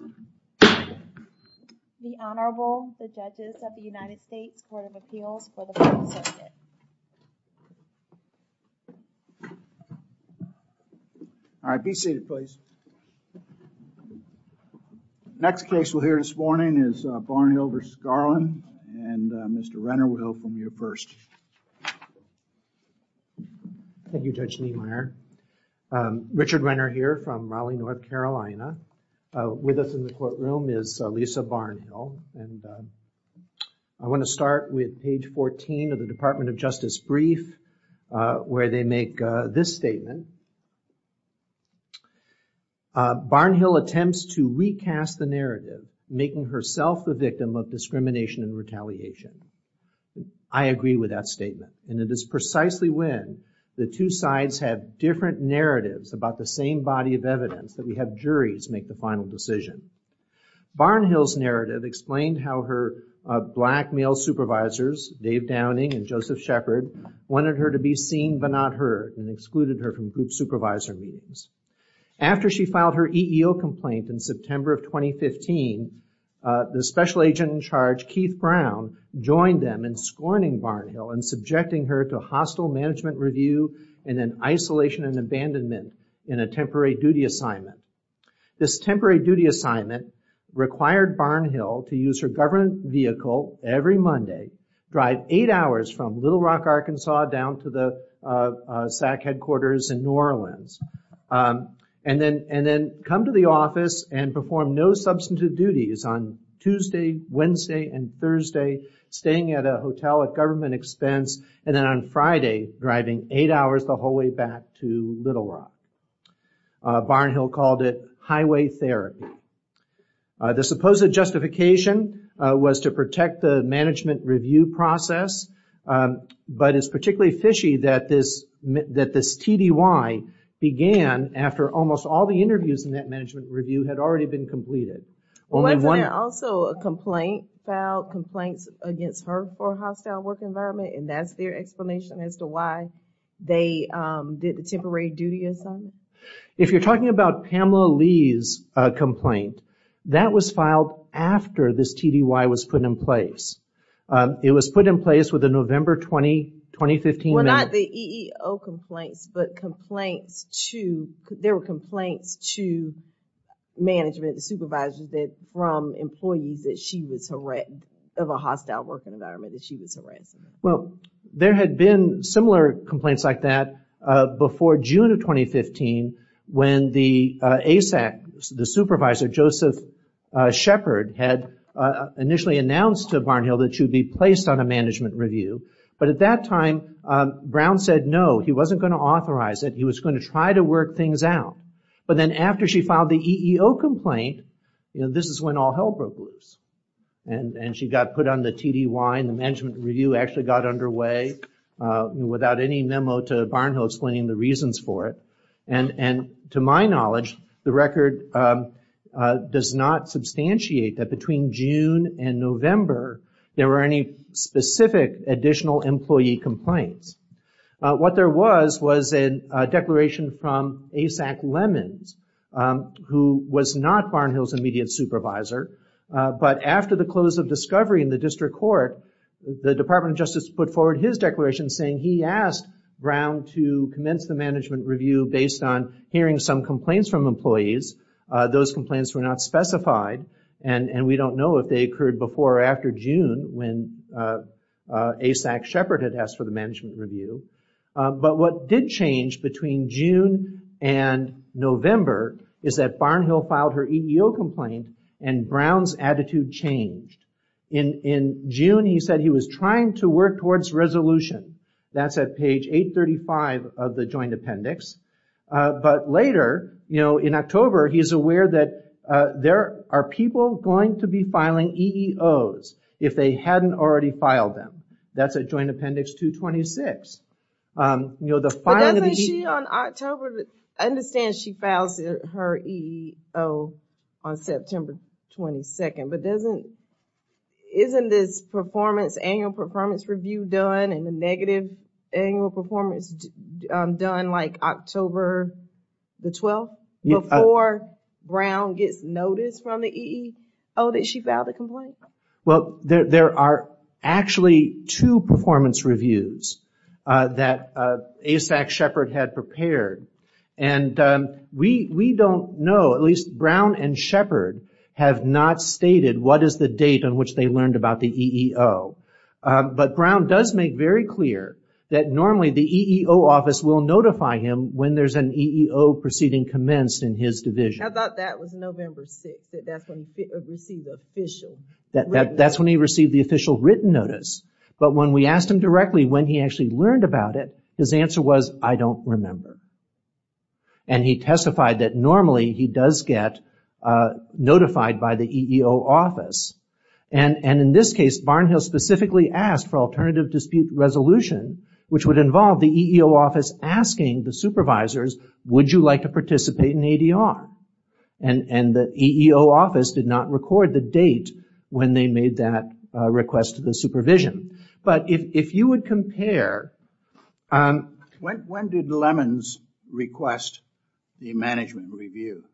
and Mr. Renner will go from you first. Thank you Judge Niemeyer. Richard Renner here from Raleigh, North Carolina. With us in the courtroom is Lisa Barnhill. And I want to start with page 14 of the Department of Justice brief where they make this statement. Barnhill attempts to recast the narrative, making herself the victim of discrimination and retaliation. I agree with that statement. And it is precisely when the two sides have different narratives about the same body of evidence that we have juries make the final decision. Barnhill's narrative explained how her black male supervisors, Dave Downing and Joseph Shepard, wanted her to be seen but not heard and excluded her from group supervisor meetings. After she filed her EEO complaint in September of 2015, the special agent in charge, Keith Brown, joined them in scorning Barnhill and subjecting her to hostile management review and an isolation and abandonment in a temporary duty assignment. This temporary duty assignment required Barnhill to use her government vehicle every Monday, drive eight hours from Little Rock, Arkansas down to the SAC headquarters in New Orleans, and then come to the office and perform no substantive duties on Tuesday, Wednesday, and Thursday staying at a hotel at government expense, and then on Friday driving eight hours the whole way back to Little Rock. Barnhill called it highway therapy. The supposed justification was to protect the management review had already been completed. Wasn't there also a complaint against her for hostile work environment and that's their explanation as to why they did the temporary duty assignment? If you're talking about Pamela Lee's complaint, that was filed after this TDY was put in place. It was put in place with the November 20, 2015. Well, not the EEO complaints, but complaints to, there were complaints to management and supervisors that from employees that she was harassed, of a hostile work environment that she was harassed. Well, there had been similar complaints like that before June of 2015 when the ASAC, the supervisor, Joseph Shepard, had initially announced to Barnhill that she would be placed on a management review, but at that time, Brown said no. He wasn't going to authorize it. He was going to try to work things out. But then after she filed the EEO complaint, this is when all hell broke loose. She got put on the TDY and the management review actually got underway without any memo to Barnhill explaining the reasons for it. To my knowledge, the record does not substantiate that between June and November there were any specific additional employee complaints. What there was was a declaration from ASAC Lemons, who was not Barnhill's immediate supervisor, but after the close of discovery in the district court, the Department of Justice put forward his declaration saying he asked Brown to commence the management review based on hearing some complaints from employees. Those complaints were not specified, and we don't know if they occurred before or after June when ASAC Shepard had asked for the management review. But what did change between June and November is that Barnhill filed her EEO complaint and Brown's attitude changed. In June, he said he was trying to work towards resolution. That's at page 835 of the joint appendix. But later, in October, he's aware that there are people going to be filing EEOs if they hadn't already filed them. That's at joint appendix 226. But doesn't she on October, I understand she files her EEO on September 22nd, but isn't this annual performance review done and the negative annual performance done like October the 12th before Brown gets notice from the EEO that she filed a complaint? Well, there are actually two performance reviews that ASAC Shepard had prepared, and we don't know, at least Brown and Shepard have not stated what is the date on which they learned about the EEO. But Brown does make very clear that normally the EEO office will notify him when there's an EEO proceeding commenced in his division. I thought that was November 6th, that's when he received the official written notice. That's when he received the official written notice. But when we asked him directly when he actually learned about it, his answer was, I don't remember. And he testified that normally he does get notified by the EEO office. And in this case, Barnhill specifically asked for alternative dispute resolution, which would involve the EEO office asking the supervisors, would you like to participate in ADR? And the EEO office did not record the date when they made that request to the supervision. But if you would compare... When did Lemons request the management review?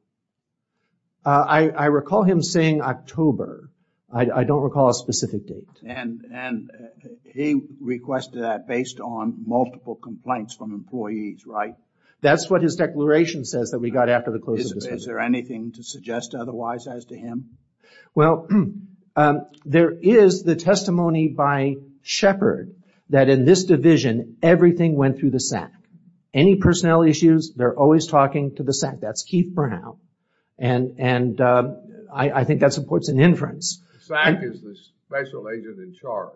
I recall him saying October. I don't recall a specific date. And he requested that based on multiple complaints from employees, right? That's what his declaration says that we got after the closing. Is there anything to suggest otherwise as to him? Well, there is the testimony by Shepard that in this division, everything went through the SAC. Any personnel issues, they're always talking to the SAC. That's Keith Brown. And I think that supports an inference. SAC is the special agent in charge.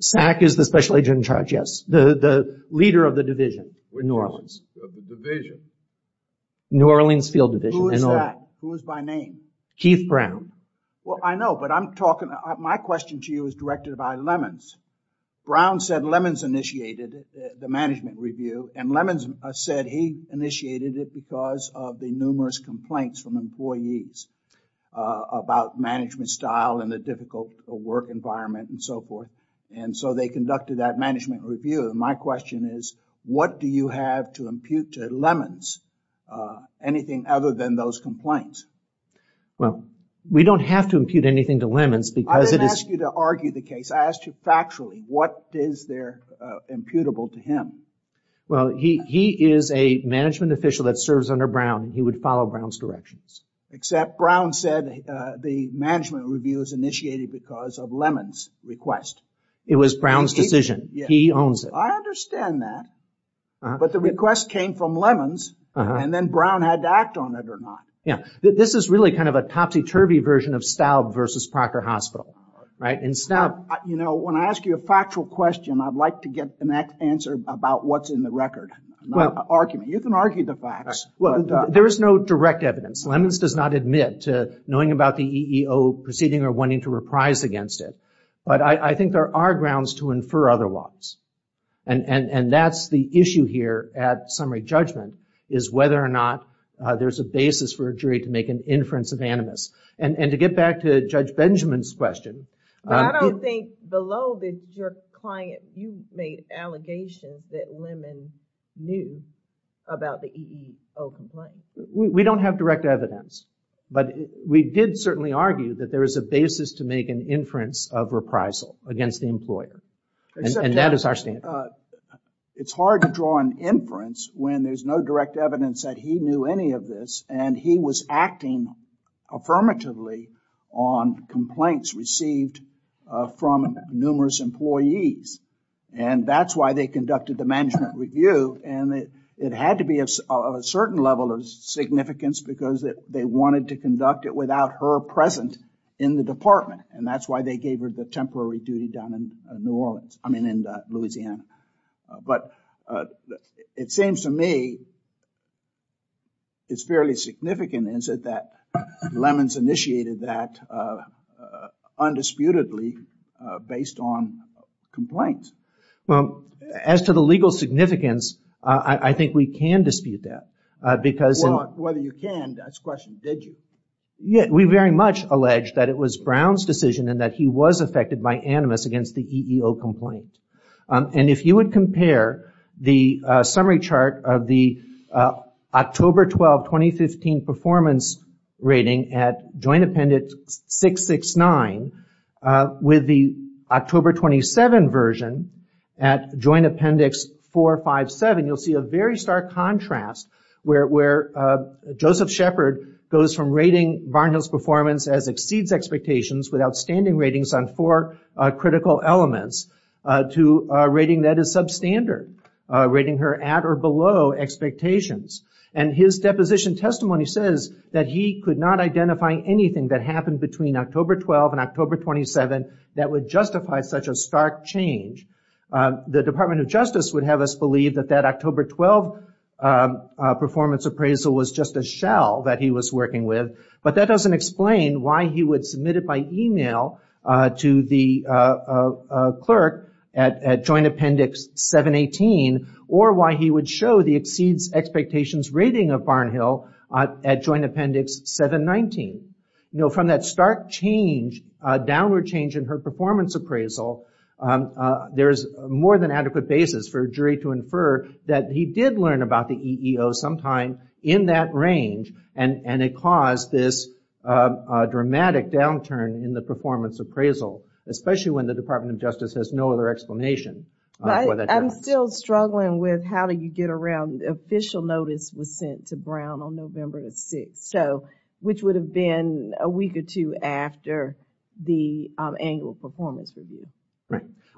SAC is the special agent in charge, yes. The leader of the division in New Orleans. Of the division? New Orleans Field Division. Who is that? Who is by name? Keith Brown. Well, I know, but I'm talking... My question to you is directed by Lemons. Brown said Lemons initiated the management review and Lemons said he initiated it because of the numerous complaints from employees about management style and the difficult work environment and so forth. And so they conducted that management review. My question is, what do you have to impute to Lemons? Anything other than those complaints? Well, we don't have to impute anything to Lemons because it is... I didn't ask you to argue the case. I asked you factually, what is there imputable to him? Well, he is a management official that serves under Brown. He would follow Brown's directions. Except Brown said the management review was initiated because of Lemons' request. It was Brown's decision. He owns it. I understand that, but the request came from Lemons and then Brown had to act on it or not. Yeah. This is really kind of a topsy-turvy version of Staub versus Proctor Hospital, right? You know, when I ask you a factual question, I'd like to get an answer about what's in the record, not an argument. You can argue the facts. Well, there is no direct evidence. Lemons does not admit to knowing about the EEO proceeding or wanting to reprise against it. But I think there are grounds to infer otherwise. And that's the issue here at summary judgment, is whether or not there's a basis for a jury to make an inference of animus. And to get back to Judge Benjamin's question... I think below your client, you made allegations that Lemons knew about the EEO complaint. We don't have direct evidence, but we did certainly argue that there is a basis to make an inference of reprisal against the employer. And that is our standard. It's hard to draw an inference when there's no direct evidence that he knew any of this and he was acting affirmatively on complaints received from numerous employees. And that's why they conducted the management review. And it had to be of a certain level of significance because they wanted to conduct it without her present in the department. And that's why they gave her the temporary duty down in New Orleans. I mean, in Louisiana. But it seems to me it's fairly significant, is it, that Lemons initiated that undisputedly based on complaints? Well, as to the legal significance, I think we can dispute that because... Well, whether you can, that's the question. Did you? We very much allege that it was Brown's decision and that he was affected by animus against the EEO complaint. And if you would compare the summary chart of the October 12, 2015 performance rating at Joint Appendix 669 with the October 27 version at Joint Appendix 457, you'll see a very stark contrast where Joseph Shepard goes from rating Barnhill's performance as exceeds expectations with outstanding ratings on four critical elements to rating that as substandard, rating her at or below expectations. And his deposition testimony says that he could not identify anything that happened between October 12 and October 27 that would justify such a stark change. The Department of Justice would have us believe that that October 12 performance appraisal was just a shell that he was working with. But that doesn't explain why he would submit it by email to the clerk at Joint Appendix 718 or why he would show the exceeds expectations rating of Barnhill at Joint Appendix 719. You know, from that stark change, downward change in her performance appraisal, there's more than adequate basis for a jury to infer that he did learn about the EEO sometime in that range and it caused this dramatic downturn in the performance appraisal, especially when the Department of Justice has no other explanation. I'm still struggling with how do you get around the official notice was sent to Brown on November the 6th. So, which would have been a week or two after the annual performance review.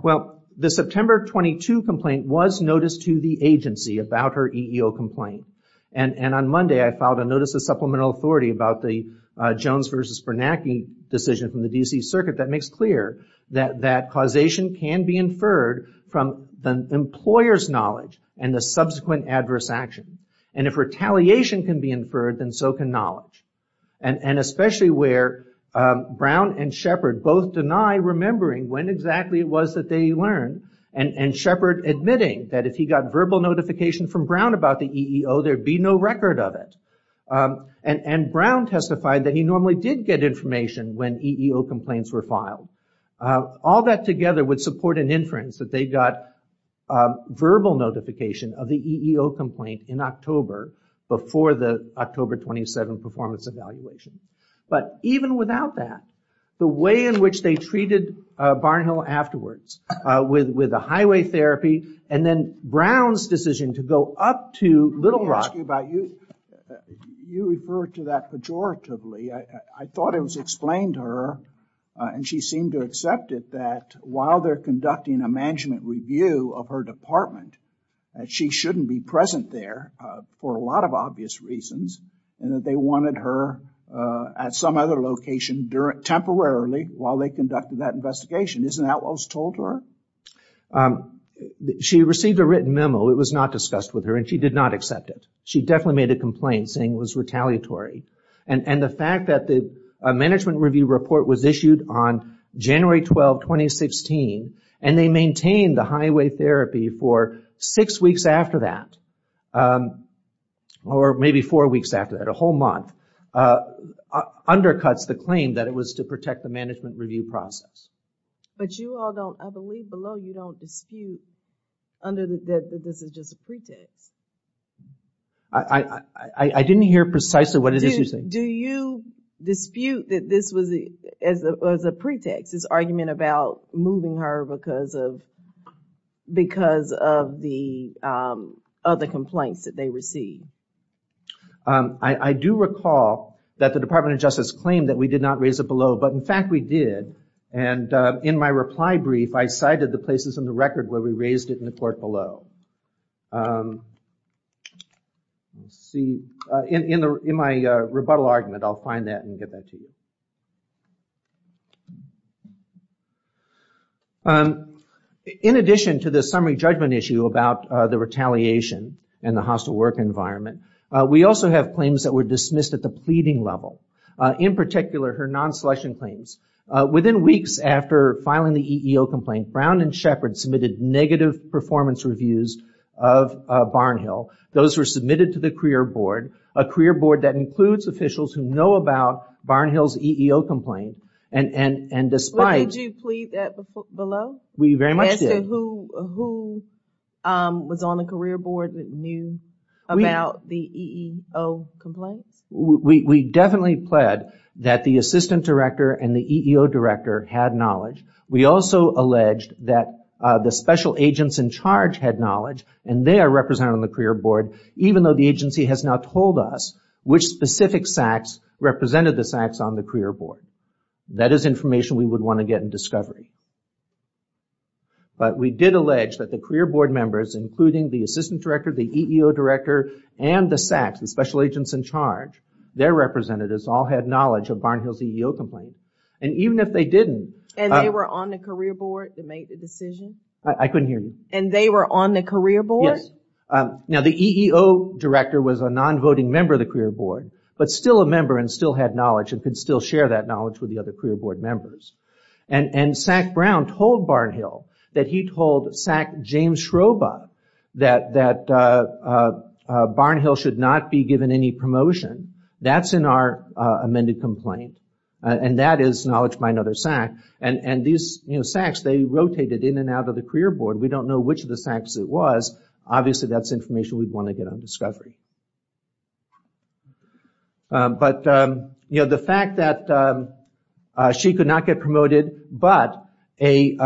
Well, the September 22 complaint was noticed to the agency about her EEO complaint. And on Monday, I filed a notice of supplemental authority about the Jones versus Bernanke decision from the D.C. Circuit that makes clear that causation can be inferred from the employer's knowledge and the subsequent adverse action. And if retaliation can be inferred, then so can knowledge. And especially where Brown and Shepard both deny remembering when exactly it was that they learned and Shepard admitting that if he got verbal notification from Brown about the EEO, there'd be no record of it. And Brown testified that he normally did get information when EEO complaints were filed. All that together would support an inference that they got verbal notification of the EEO complaint in October before the October 27 performance evaluation. But even without that, the way in which they treated Barnhill afterwards with the highway therapy and then Brown's decision to go up to Little Rock. Let me ask you about you. You refer to that pejoratively. I thought it was explained to her and she seemed to accept it that while they're conducting a management review of her department, that she shouldn't be present there for a lot of obvious reasons and that they wanted her at some other location temporarily while they conducted that investigation. Isn't that what was told to her? She received a written memo. It was not discussed with her and she did not accept it. She definitely made a complaint saying it was retaliatory. And the fact that the management review report was issued on January 12, 2016, and they maintained the highway therapy for six weeks after that, or maybe four weeks after that, a whole month, undercuts the claim that it was to protect the management review process. But you all don't, I believe below, you don't dispute that this is just a pretext. I didn't hear precisely what it is you're saying. Do you dispute that this was a pretext, this argument about moving her because of the other complaints that they received? I do recall that the Department of Justice claimed that we did not raise it below, but in fact we did. And in my reply brief, I cited the places in the record where we raised it in the court below. Let's see. In my rebuttal argument, I'll find that and get that to you. In addition to the summary judgment issue about the retaliation and the hostile work environment, we also have claims that were dismissed at the pleading level. In particular, her non-selection claims. Within weeks after filing the EEO complaint, Brown and Shepard submitted negative performance reviews of Barnhill. Those were submitted to the career board, a career board that includes officials who know about Barnhill's EEO complaint. And despite... Did you plead that below? We very much did. As to who was on the career board that knew about the EEO complaints? We definitely pled that the assistant director and the EEO director had knowledge. We also alleged that the special agents in charge had knowledge, and they are represented on the career board, even though the agency has not told us which specific SACs represented the SACs on the career board. That is information we would want to get in discovery. But we did allege that the career board members, including the assistant director, the EEO director, and the SACs, the special agents in charge, their representatives, all had knowledge of Barnhill's EEO complaint. And even if they didn't... And they were on the career board that made the decision? I couldn't hear you. And they were on the career board? Yes. Now, the EEO director was a non-voting member of the career board, but still a member and still had knowledge and could still share that knowledge with the other career board members. And SAC Brown told Barnhill that he told SAC James Schroba that Barnhill should not be given any promotion. That's in our amended complaint, and that is knowledge by another SAC. And these SACs, they rotated in and out of the career board. We don't know which of the SACs it was. Obviously, that's information we'd want to get on discovery. But the fact that she could not get promoted, but an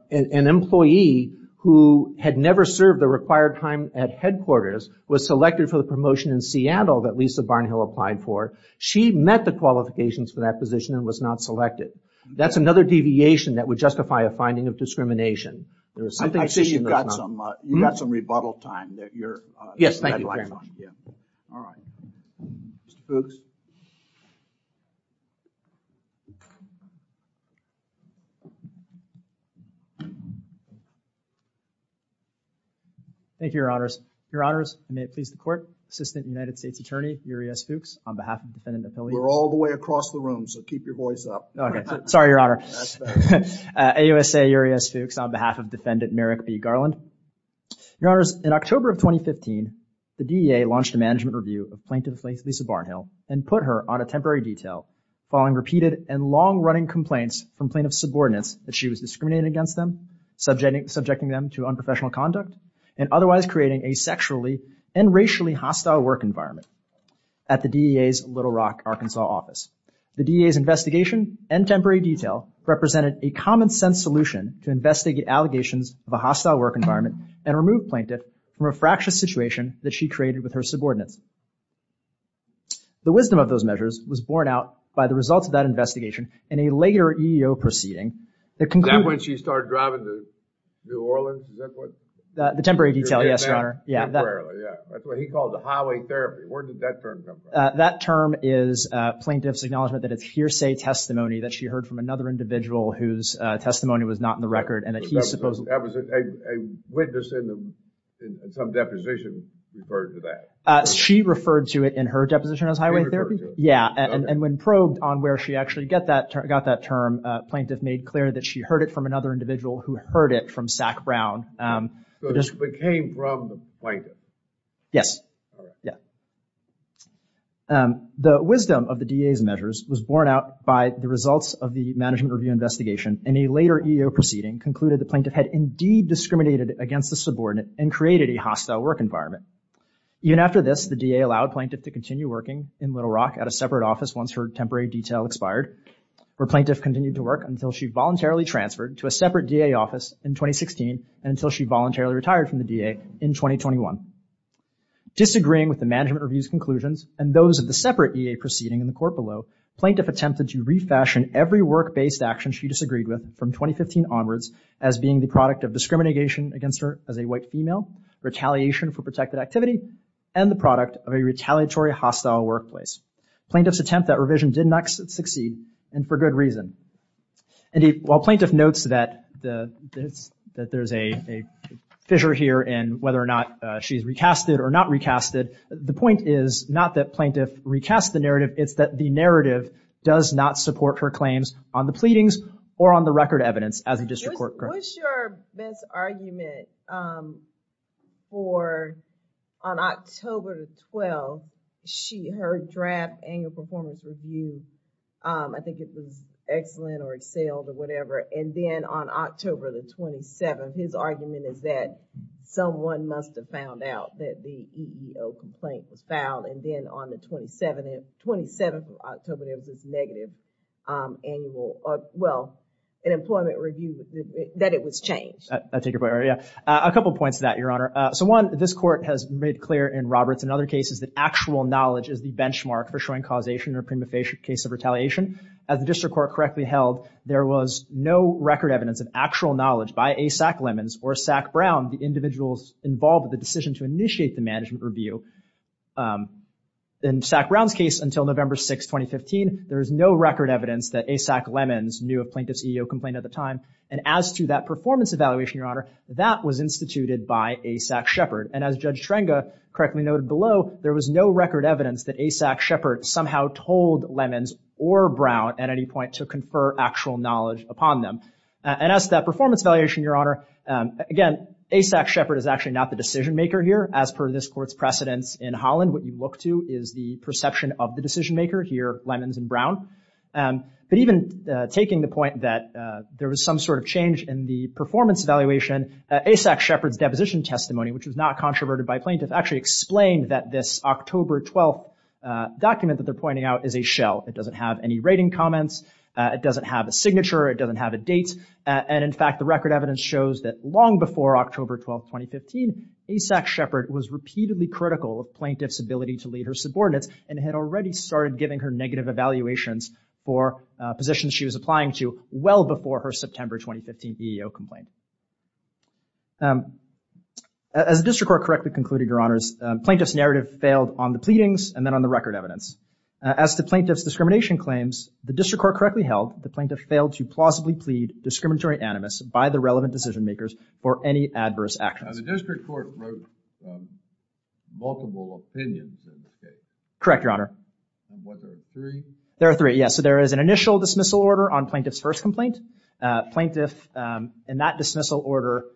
employee who had never served the required time at headquarters was selected for the promotion in Seattle that Lisa Barnhill applied for. She met the qualifications for that position and was not selected. That's another deviation that would justify a finding of discrimination. I see you've got some rebuttal time. Yes, thank you, Your Honor. All right. Mr. Fuchs. Thank you, Your Honors. Your Honors, may it please the Court, Assistant United States Attorney, Uri S. Fuchs, on behalf of the Defendant Appeal. We're all the way across the room, so keep your voice up. Okay. Sorry, Your Honor. AUSA, Uri S. Fuchs, on behalf of Defendant Merrick B. Garland. Your Honors, in October of 2015, the DEA launched a management review of Plaintiff Lisa Barnhill and put her on a temporary detail following repeated and long-running complaints from plaintiff's subordinates that she was discriminating against them, subjecting them to unprofessional conduct, and otherwise creating a sexually and racially hostile work environment at the DEA's Little Rock, Arkansas office. The DEA's investigation and temporary detail represented a common-sense solution to investigate allegations of a hostile work environment and remove plaintiff from a fractious situation that she created with her subordinates. The wisdom of those measures was borne out by the results of that investigation and a later EEO proceeding that concluded... Is that when she started driving to New Orleans? Is that what... The temporary detail, yes, Your Honor. That's what he called the highway therapy. Where did that term come from? That term is plaintiff's acknowledgement that it's hearsay testimony that she heard from another individual whose testimony was not in the record and that he supposedly... That was a witness in some deposition referred to that. She referred to it in her deposition as highway therapy? Yeah, and when probed on where she actually got that term, plaintiff made clear that she heard it from another individual who heard it from Sac Brown. So it came from the plaintiff? Yes. The wisdom of the DA's measures was borne out by the results of the management review investigation and a later EEO proceeding concluded the plaintiff had indeed discriminated against the subordinate and created a hostile work environment. Even after this, the DA allowed plaintiff to continue working in Little Rock at a separate office once her temporary detail expired, where plaintiff continued to work until she voluntarily transferred to a separate DA office in 2016 and until she voluntarily retired from the DA in 2021. Disagreeing with the management review's conclusions and those of the separate EA proceeding in the court below, plaintiff attempted to refashion every work-based action she disagreed with from 2015 onwards as being the product of discrimination against her as a white female, retaliation for protected activity, and the product of a retaliatory hostile workplace. Plaintiff's attempt at revision did not succeed and for good reason. While plaintiff notes that there's a fissure here in whether or not she's recasted or not recasted, the point is not that plaintiff recasts the narrative, it's that the narrative does not support her claims on the pleadings or on the record evidence as a district court. What's your best argument for on October 12th, she heard draft annual performance review, I think it was excellent or excelled or whatever, and then on October the 27th, his argument is that someone must have found out that the EEO complaint was filed and then on the 27th of October, there was this negative annual, well, an employment review that it was changed. I take your point. A couple of points to that, Your Honor. So one, this court has made clear in Roberts and other cases that actual knowledge is the benchmark for showing causation or prima facie case of retaliation. As the district court correctly held, there was no record evidence of actual knowledge by A. Sack Lemons or Sack Brown, the individuals involved with the decision to initiate the management review. In Sack Brown's case until November 6, 2015, there is no record evidence that A. Sack Lemons knew of plaintiff's EEO complaint at the time. And as to that performance evaluation, Your Honor, that was instituted by A. Sack Shepherd. And as Judge Schrenga correctly noted below, there was no record evidence that A. Sack Shepherd somehow told Lemons or Brown at any point to confer actual knowledge upon them. And as to that performance evaluation, Your Honor, again, A. Sack Shepherd is actually not the decision maker here. As per this court's precedence in Holland, what you look to is the perception of the decision maker here, Lemons and Brown. But even taking the point that there was some sort of change in the performance evaluation, A. Sack Shepherd's deposition testimony, which was not controverted by plaintiff, actually explained that this October 12 document that they're pointing out is a shell. It doesn't have any rating comments. It doesn't have a signature. It doesn't have a date. And, in fact, the record evidence shows that long before October 12, 2015, A. Sack Shepherd was repeatedly critical of plaintiff's ability to lead her subordinates and had already started giving her negative evaluations for positions she was applying to well before her September 2015 EEO complaint. As the district court correctly concluded, Your Honors, plaintiff's narrative failed on the pleadings and then on the record evidence. As to plaintiff's discrimination claims, the district court correctly held the plaintiff failed to plausibly plead discriminatory animus by the relevant decision makers for any adverse actions. Now, the district court wrote multiple opinions in this case. Correct, Your Honor. Was there three? There are three, yes. So there is an initial dismissal order on plaintiff's first complaint. Plaintiff, in that dismissal order,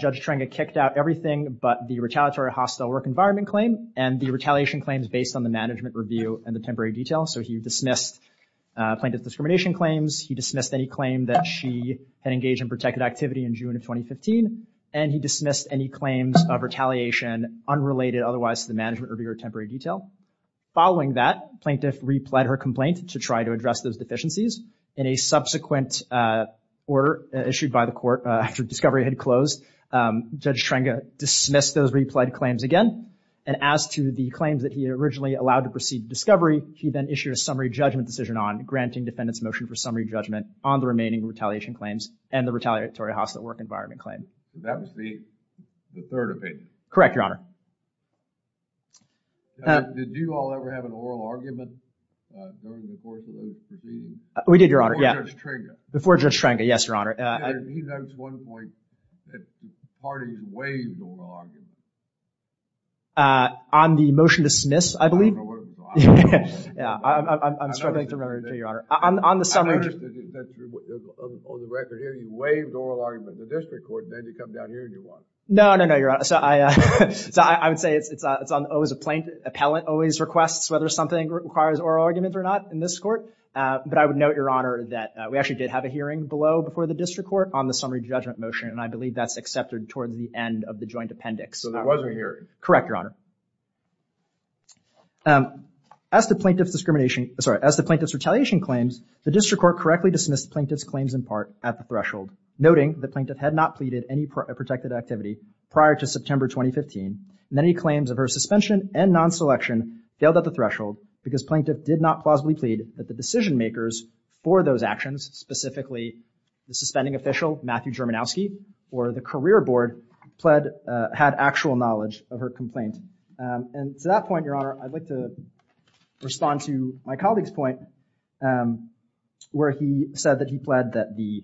Judge Trenga kicked out everything but the retaliatory hostile work environment claim and the retaliation claims based on the management review and the temporary detail. So he dismissed plaintiff's discrimination claims. He dismissed any claim that she had engaged in protected activity in June of 2015. And he dismissed any claims of retaliation unrelated otherwise to the management review or temporary detail. Following that, plaintiff replied her complaint to try to address those deficiencies. In a subsequent order issued by the court after discovery had closed, Judge Trenga dismissed those replied claims again. And as to the claims that he originally allowed to proceed discovery, he then issued a summary judgment decision on granting defendant's motion for summary judgment on the remaining retaliation claims and the retaliatory hostile work environment claim. That was the third opinion. Correct, Your Honor. Did you all ever have an oral argument during the course of those proceedings? We did, Your Honor. Before Judge Trenga. Before Judge Trenga, yes, Your Honor. He notes one point that the parties waved oral arguments. On the motion to dismiss, I believe. I don't remember what it was. Yeah, I'm struggling to remember, Your Honor. On the summary judgment. On the record here, you waved oral arguments. The district court made you come down here and you won. No, no, no, Your Honor. I would say it's always a plaintiff. Appellant always requests whether something requires oral arguments or not in this court. But I would note, Your Honor, that we actually did have a hearing below before the district court on the summary judgment motion, and I believe that's accepted towards the end of the joint appendix. So there was a hearing. Correct, Your Honor. As the plaintiff's retaliation claims, the district court correctly dismissed the plaintiff's claims in part at the threshold, noting the plaintiff had not pleaded any protected activity prior to September 2015. Many claims of her suspension and non-selection failed at the threshold because plaintiff did not plausibly plead that the decision makers for those actions, specifically the suspending official, Matthew Germanowski, or the career board had actual knowledge of her complaint. And to that point, Your Honor, I'd like to respond to my colleague's point where he said that he pled that the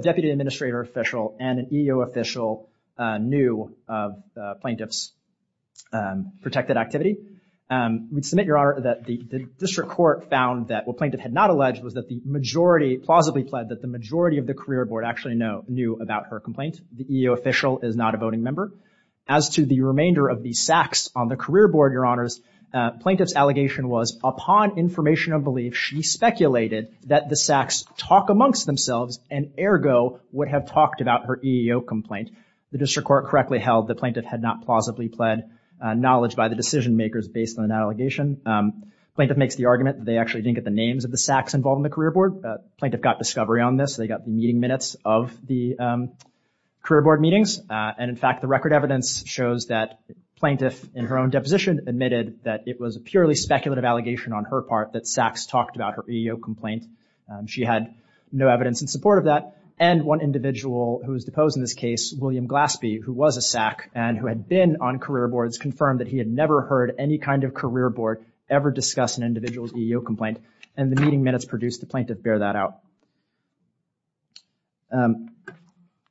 deputy administrator official and an EEO official knew of plaintiff's protected activity. We submit, Your Honor, that the district court found that what plaintiff had not alleged was that the majority, plausibly pled, that the majority of the career board actually knew about her complaint. The EEO official is not a voting member. As to the remainder of the sacks on the career board, Your Honors, plaintiff's allegation was upon information of belief, she speculated that the sacks talk amongst themselves and ergo would have talked about her EEO complaint. The district court correctly held that plaintiff had not plausibly pled knowledge by the decision makers based on an allegation. Plaintiff makes the argument that they actually didn't get the names of the sacks involved in the career board. Plaintiff got discovery on this. They got the meeting minutes of the career board meetings. And, in fact, the record evidence shows that plaintiff, in her own deposition, admitted that it was a purely speculative allegation on her part that sacks talked about her EEO complaint. She had no evidence in support of that. And one individual who was deposed in this case, William Glaspie, who was a sack and who had been on career boards, confirmed that he had never heard any kind of career board ever discuss an individual's EEO complaint. And the meeting minutes produced the plaintiff bear that out.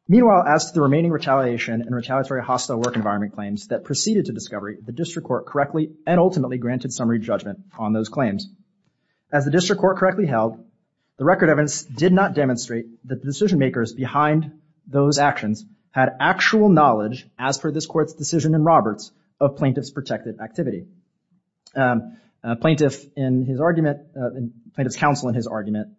Meanwhile, as to the remaining retaliation and retaliatory hostile work environment claims that proceeded to discovery, the district court correctly and ultimately granted summary judgment on those claims. As the district court correctly held, the record evidence did not demonstrate that the decision makers behind those actions had actual knowledge, as per this court's decision in Roberts, of plaintiff's protected activity. Plaintiff, in his argument, plaintiff's counsel in his argument,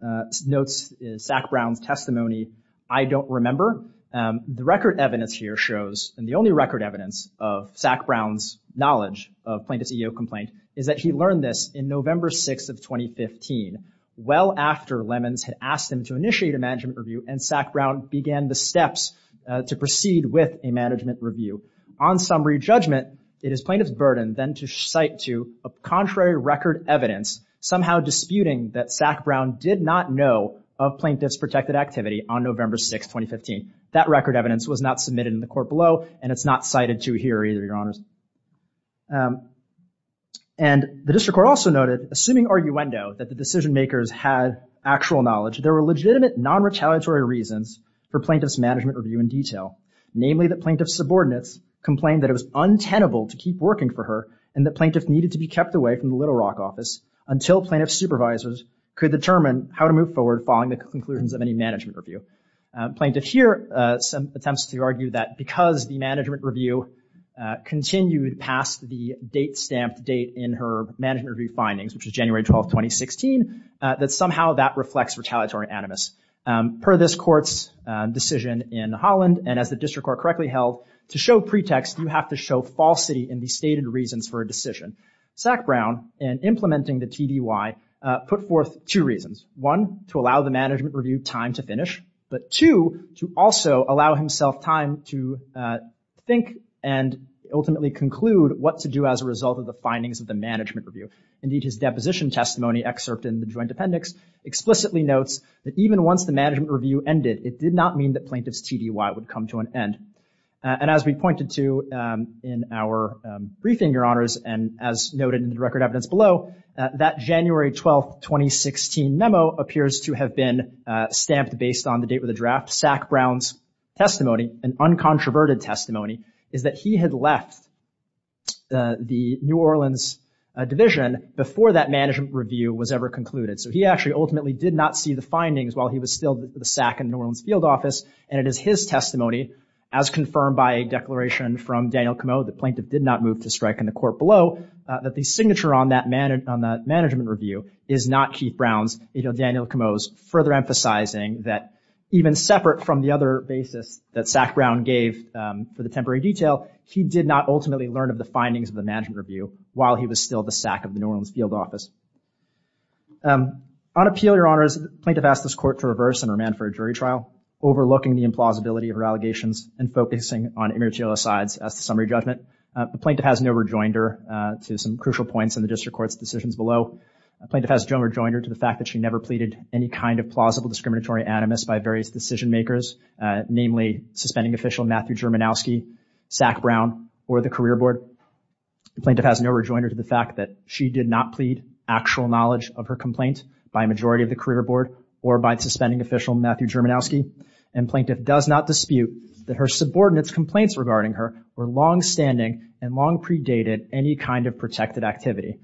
notes Sack Brown's testimony, I don't remember. The record evidence here shows, and the only record evidence of Sack Brown's knowledge of plaintiff's EEO complaint, is that he learned this in November 6th of 2015, well after Lemons had asked him to initiate a management review and Sack Brown began the steps to proceed with a management review. On summary judgment, it is plaintiff's burden, then, to cite to a contrary record evidence somehow disputing that Sack Brown did not know of plaintiff's protected activity on November 6th, 2015. That record evidence was not submitted in the court below, and it's not cited to here either, Your Honors. And the district court also noted, assuming arguendo, that the decision makers had actual knowledge, there were legitimate non-retaliatory reasons for plaintiff's management review in detail, namely that plaintiff's subordinates complained that it was untenable to keep working for her and that plaintiff needed to be kept away from the Little Rock office until plaintiff's supervisors could determine how to move forward following the conclusions of any management review. Plaintiff here attempts to argue that because the management review continued past the date stamped date in her management review findings, which is January 12th, 2016, that somehow that reflects retaliatory animus. Per this court's decision in Holland, and as the district court correctly held, to show pretext you have to show falsity in the stated reasons for a decision. Sack Brown, in implementing the TDY, put forth two reasons. One, to allow the management review time to finish, but two, to also allow himself time to think and ultimately conclude what to do as a result of the findings of the management review. Indeed, his deposition testimony excerpt in the joint appendix explicitly notes that even once the management review ended, it did not mean that plaintiff's TDY would come to an end. And as we pointed to in our briefing, Your Honors, and as noted in the record evidence below, that January 12th, 2016 memo appears to have been stamped based on the date of the draft. Sack Brown's testimony, an uncontroverted testimony, is that he had left the New Orleans division before that management review was ever concluded. So he actually ultimately did not see the findings while he was still with the SAC in New Orleans field office, and it is his testimony, as confirmed by a declaration from Daniel Comeau, the plaintiff did not move to strike in the court below, that the signature on that management review is not Keith Brown's, it's Daniel Comeau's, further emphasizing that even separate from the other basis that Sack Brown gave for the temporary detail, he did not ultimately learn of the findings of the management review while he was still the SAC of the New Orleans field office. On appeal, Your Honors, plaintiff asked this court to reverse and remand for a jury trial, overlooking the implausibility of her allegations and focusing on immaterial asides as the summary judgment. The plaintiff has no rejoinder to some crucial points in the district court's decisions below. Plaintiff has no rejoinder to the fact that she never pleaded any kind of plausible discriminatory animus by various decision-makers, namely suspending official Matthew Germanowski, Sack Brown, or the career board. The plaintiff has no rejoinder to the fact that she did not plead actual knowledge of her complaint by a majority of the career board or by suspending official Matthew Germanowski, and plaintiff does not dispute that her subordinate's complaints regarding her were longstanding and long predated any kind of protected activity.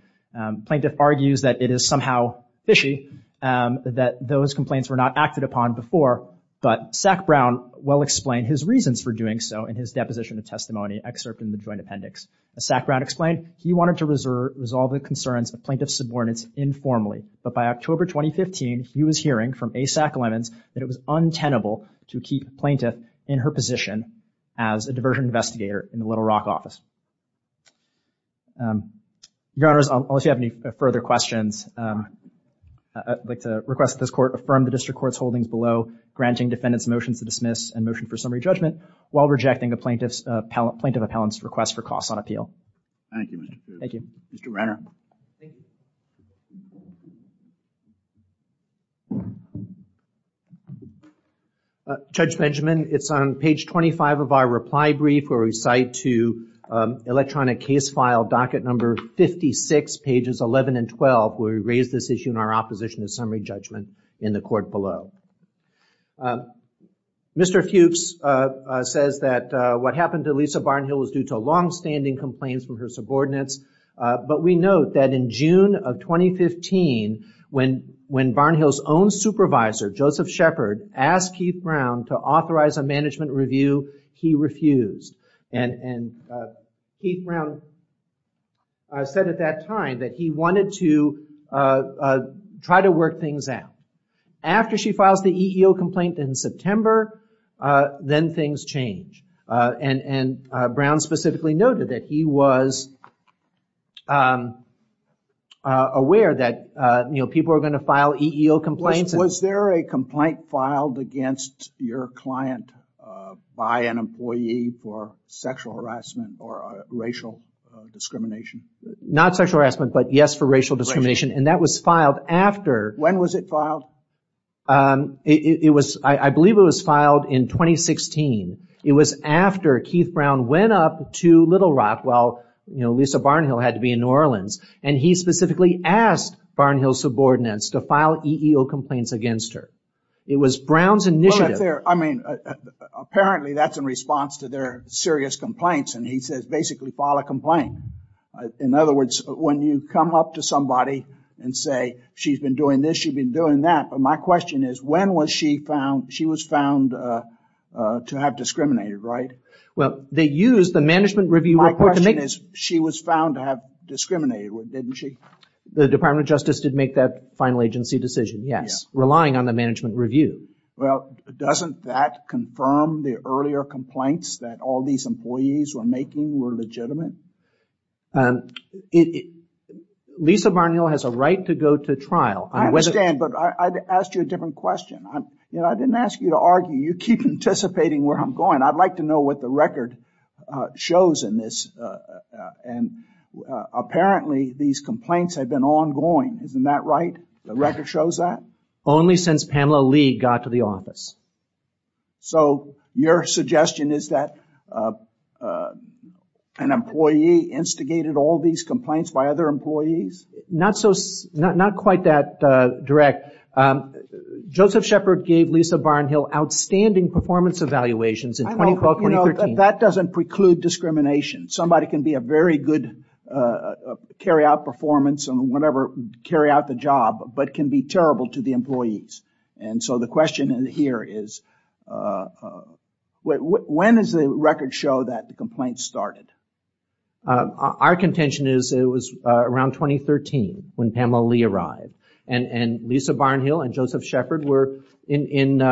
Plaintiff argues that it is somehow fishy that those complaints were not acted upon before, but Sack Brown well explained his reasons for doing so in his deposition of testimony excerpt in the joint appendix. As Sack Brown explained, he wanted to resolve the concerns of plaintiff's subordinates informally, but by October 2015, he was hearing from A. Sack Lemons that it was untenable to keep the plaintiff in her position as a diversion investigator in the Little Rock office. Your Honors, unless you have any further questions, I'd like to request that this court affirm the district court's holdings below granting defendants motions to dismiss and motion for summary judgment while rejecting the plaintiff's, plaintiff appellant's request for costs on appeal. Thank you, Mr. Cooper. Thank you. Mr. Renner. Thank you. Judge Benjamin, it's on page 25 of our reply brief where we cite to electronic case file docket number 56, pages 11 and 12, where we raise this issue in our opposition to summary judgment in the court below. Mr. Fuchs says that what happened to Lisa Barnhill was due to longstanding complaints from her subordinates, but we note that in June, of 2015, when Barnhill's own supervisor, Joseph Shepard, asked Keith Brown to authorize a management review, he refused. Keith Brown said at that time that he wanted to try to work things out. After she files the EEO complaint in September, then things change. And Brown specifically noted that he was aware that people were going to file EEO complaints. Was there a complaint filed against your client by an employee for sexual harassment or racial discrimination? Not sexual harassment, but yes for racial discrimination. And that was filed after... When was it filed? It was, I believe it was filed in 2016. It was after Keith Brown went up to Little Rock, while Lisa Barnhill had to be in New Orleans, and he specifically asked Barnhill's subordinates to file EEO complaints against her. It was Brown's initiative. I mean, apparently that's in response to their serious complaints, and he says basically file a complaint. In other words, when you come up to somebody and say she's been doing this, she's been doing that, but my question is when was she found... Well, they used the management review report to make... My question is she was found to have discriminated with, didn't she? The Department of Justice did make that final agency decision, yes, relying on the management review. Well, doesn't that confirm the earlier complaints that all these employees were making were legitimate? Lisa Barnhill has a right to go to trial. I understand, but I'd ask you a different question. I didn't ask you to argue. You keep anticipating where I'm going. I'd like to know what the record shows in this, and apparently these complaints have been ongoing. Isn't that right? The record shows that? Only since Pamela Lee got to the office. So your suggestion is that an employee instigated all these complaints by other employees? Not quite that direct. Joseph Shepard gave Lisa Barnhill outstanding performance evaluations in 2012-2013. That doesn't preclude discrimination. Somebody can be a very good carry-out performance and whatever, carry out the job, but can be terrible to the employees. And so the question here is when does the record show that the complaints started? Our contention is it was around 2013 when Pamela Lee arrived, and Lisa Barnhill and Joseph Shepard were in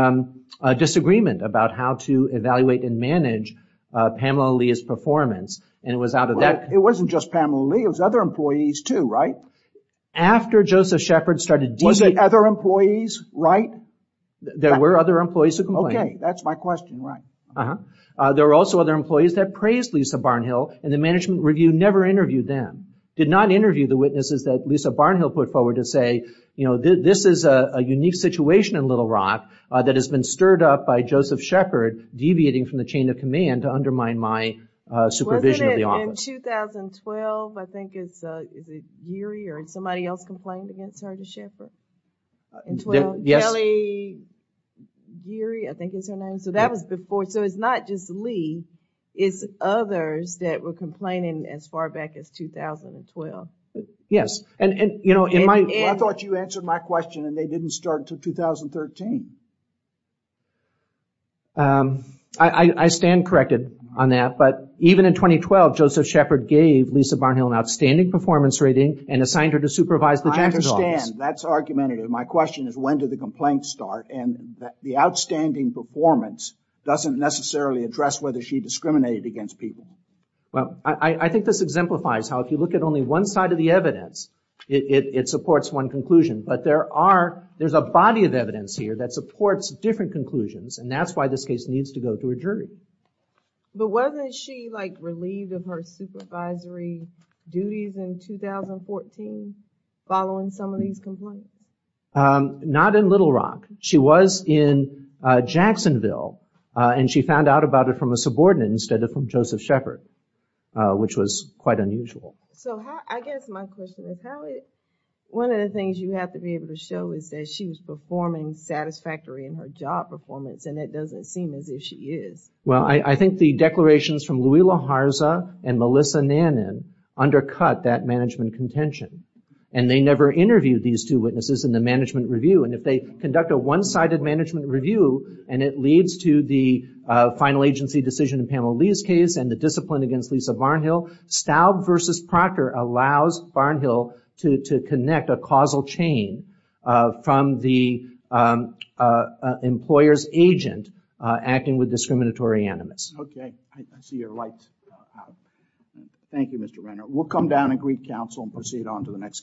disagreement about how to evaluate and manage Pamela Lee's performance, and it was out of that... It wasn't just Pamela Lee. It was other employees, too, right? After Joseph Shepard started... Was it other employees, right? There were other employees who complained. Okay, that's my question, right. There were also other employees that praised Lisa Barnhill, and the management review never interviewed them, did not interview the witnesses that Lisa Barnhill put forward to say, you know, this is a unique situation in Little Rock that has been stirred up by Joseph Shepard deviating from the chain of command to undermine my supervision of the office. Wasn't it in 2012, I think it's... Is it Geary or somebody else complained against her to Shepard? Yes. Kelly Geary, I think is her name. So that was before... So it's not just Lee. It's others that were complaining as far back as 2012. Yes, and, you know, in my... I thought you answered my question, and they didn't start until 2013. I stand corrected on that. But even in 2012, Joseph Shepard gave Lisa Barnhill an outstanding performance rating and assigned her to supervise the Justice Office. I understand. That's argumentative. My question is, when did the complaints start? And the outstanding performance doesn't necessarily address whether she discriminated against people. Well, I think this exemplifies how, if you look at only one side of the evidence, it supports one conclusion. But there are... There's a body of evidence here that supports different conclusions, and that's why this case needs to go to a jury. But wasn't she, like, relieved of her supervisory duties in 2014 following some of these complaints? Not in Little Rock. She was in Jacksonville, and she found out about it from a subordinate instead of from Joseph Shepard, which was quite unusual. So I guess my question is, how did... One of the things you have to be able to show is that she was performing satisfactorily in her job performance, and it doesn't seem as if she is. Well, I think the declarations from Louisla Harza and Melissa Nannon undercut that management contention. And they never interviewed these two witnesses in the management review. And if they conduct a one-sided management review, and it leads to the final agency decision in Pamela Lee's case and the discipline against Lisa Barnhill, Staub v. Proctor allows Barnhill to connect a causal chain from the employer's agent acting with discriminatory animus. Okay. I see you're right. Thank you, Mr. Renner. We'll come down and greet counsel and proceed on to the next case.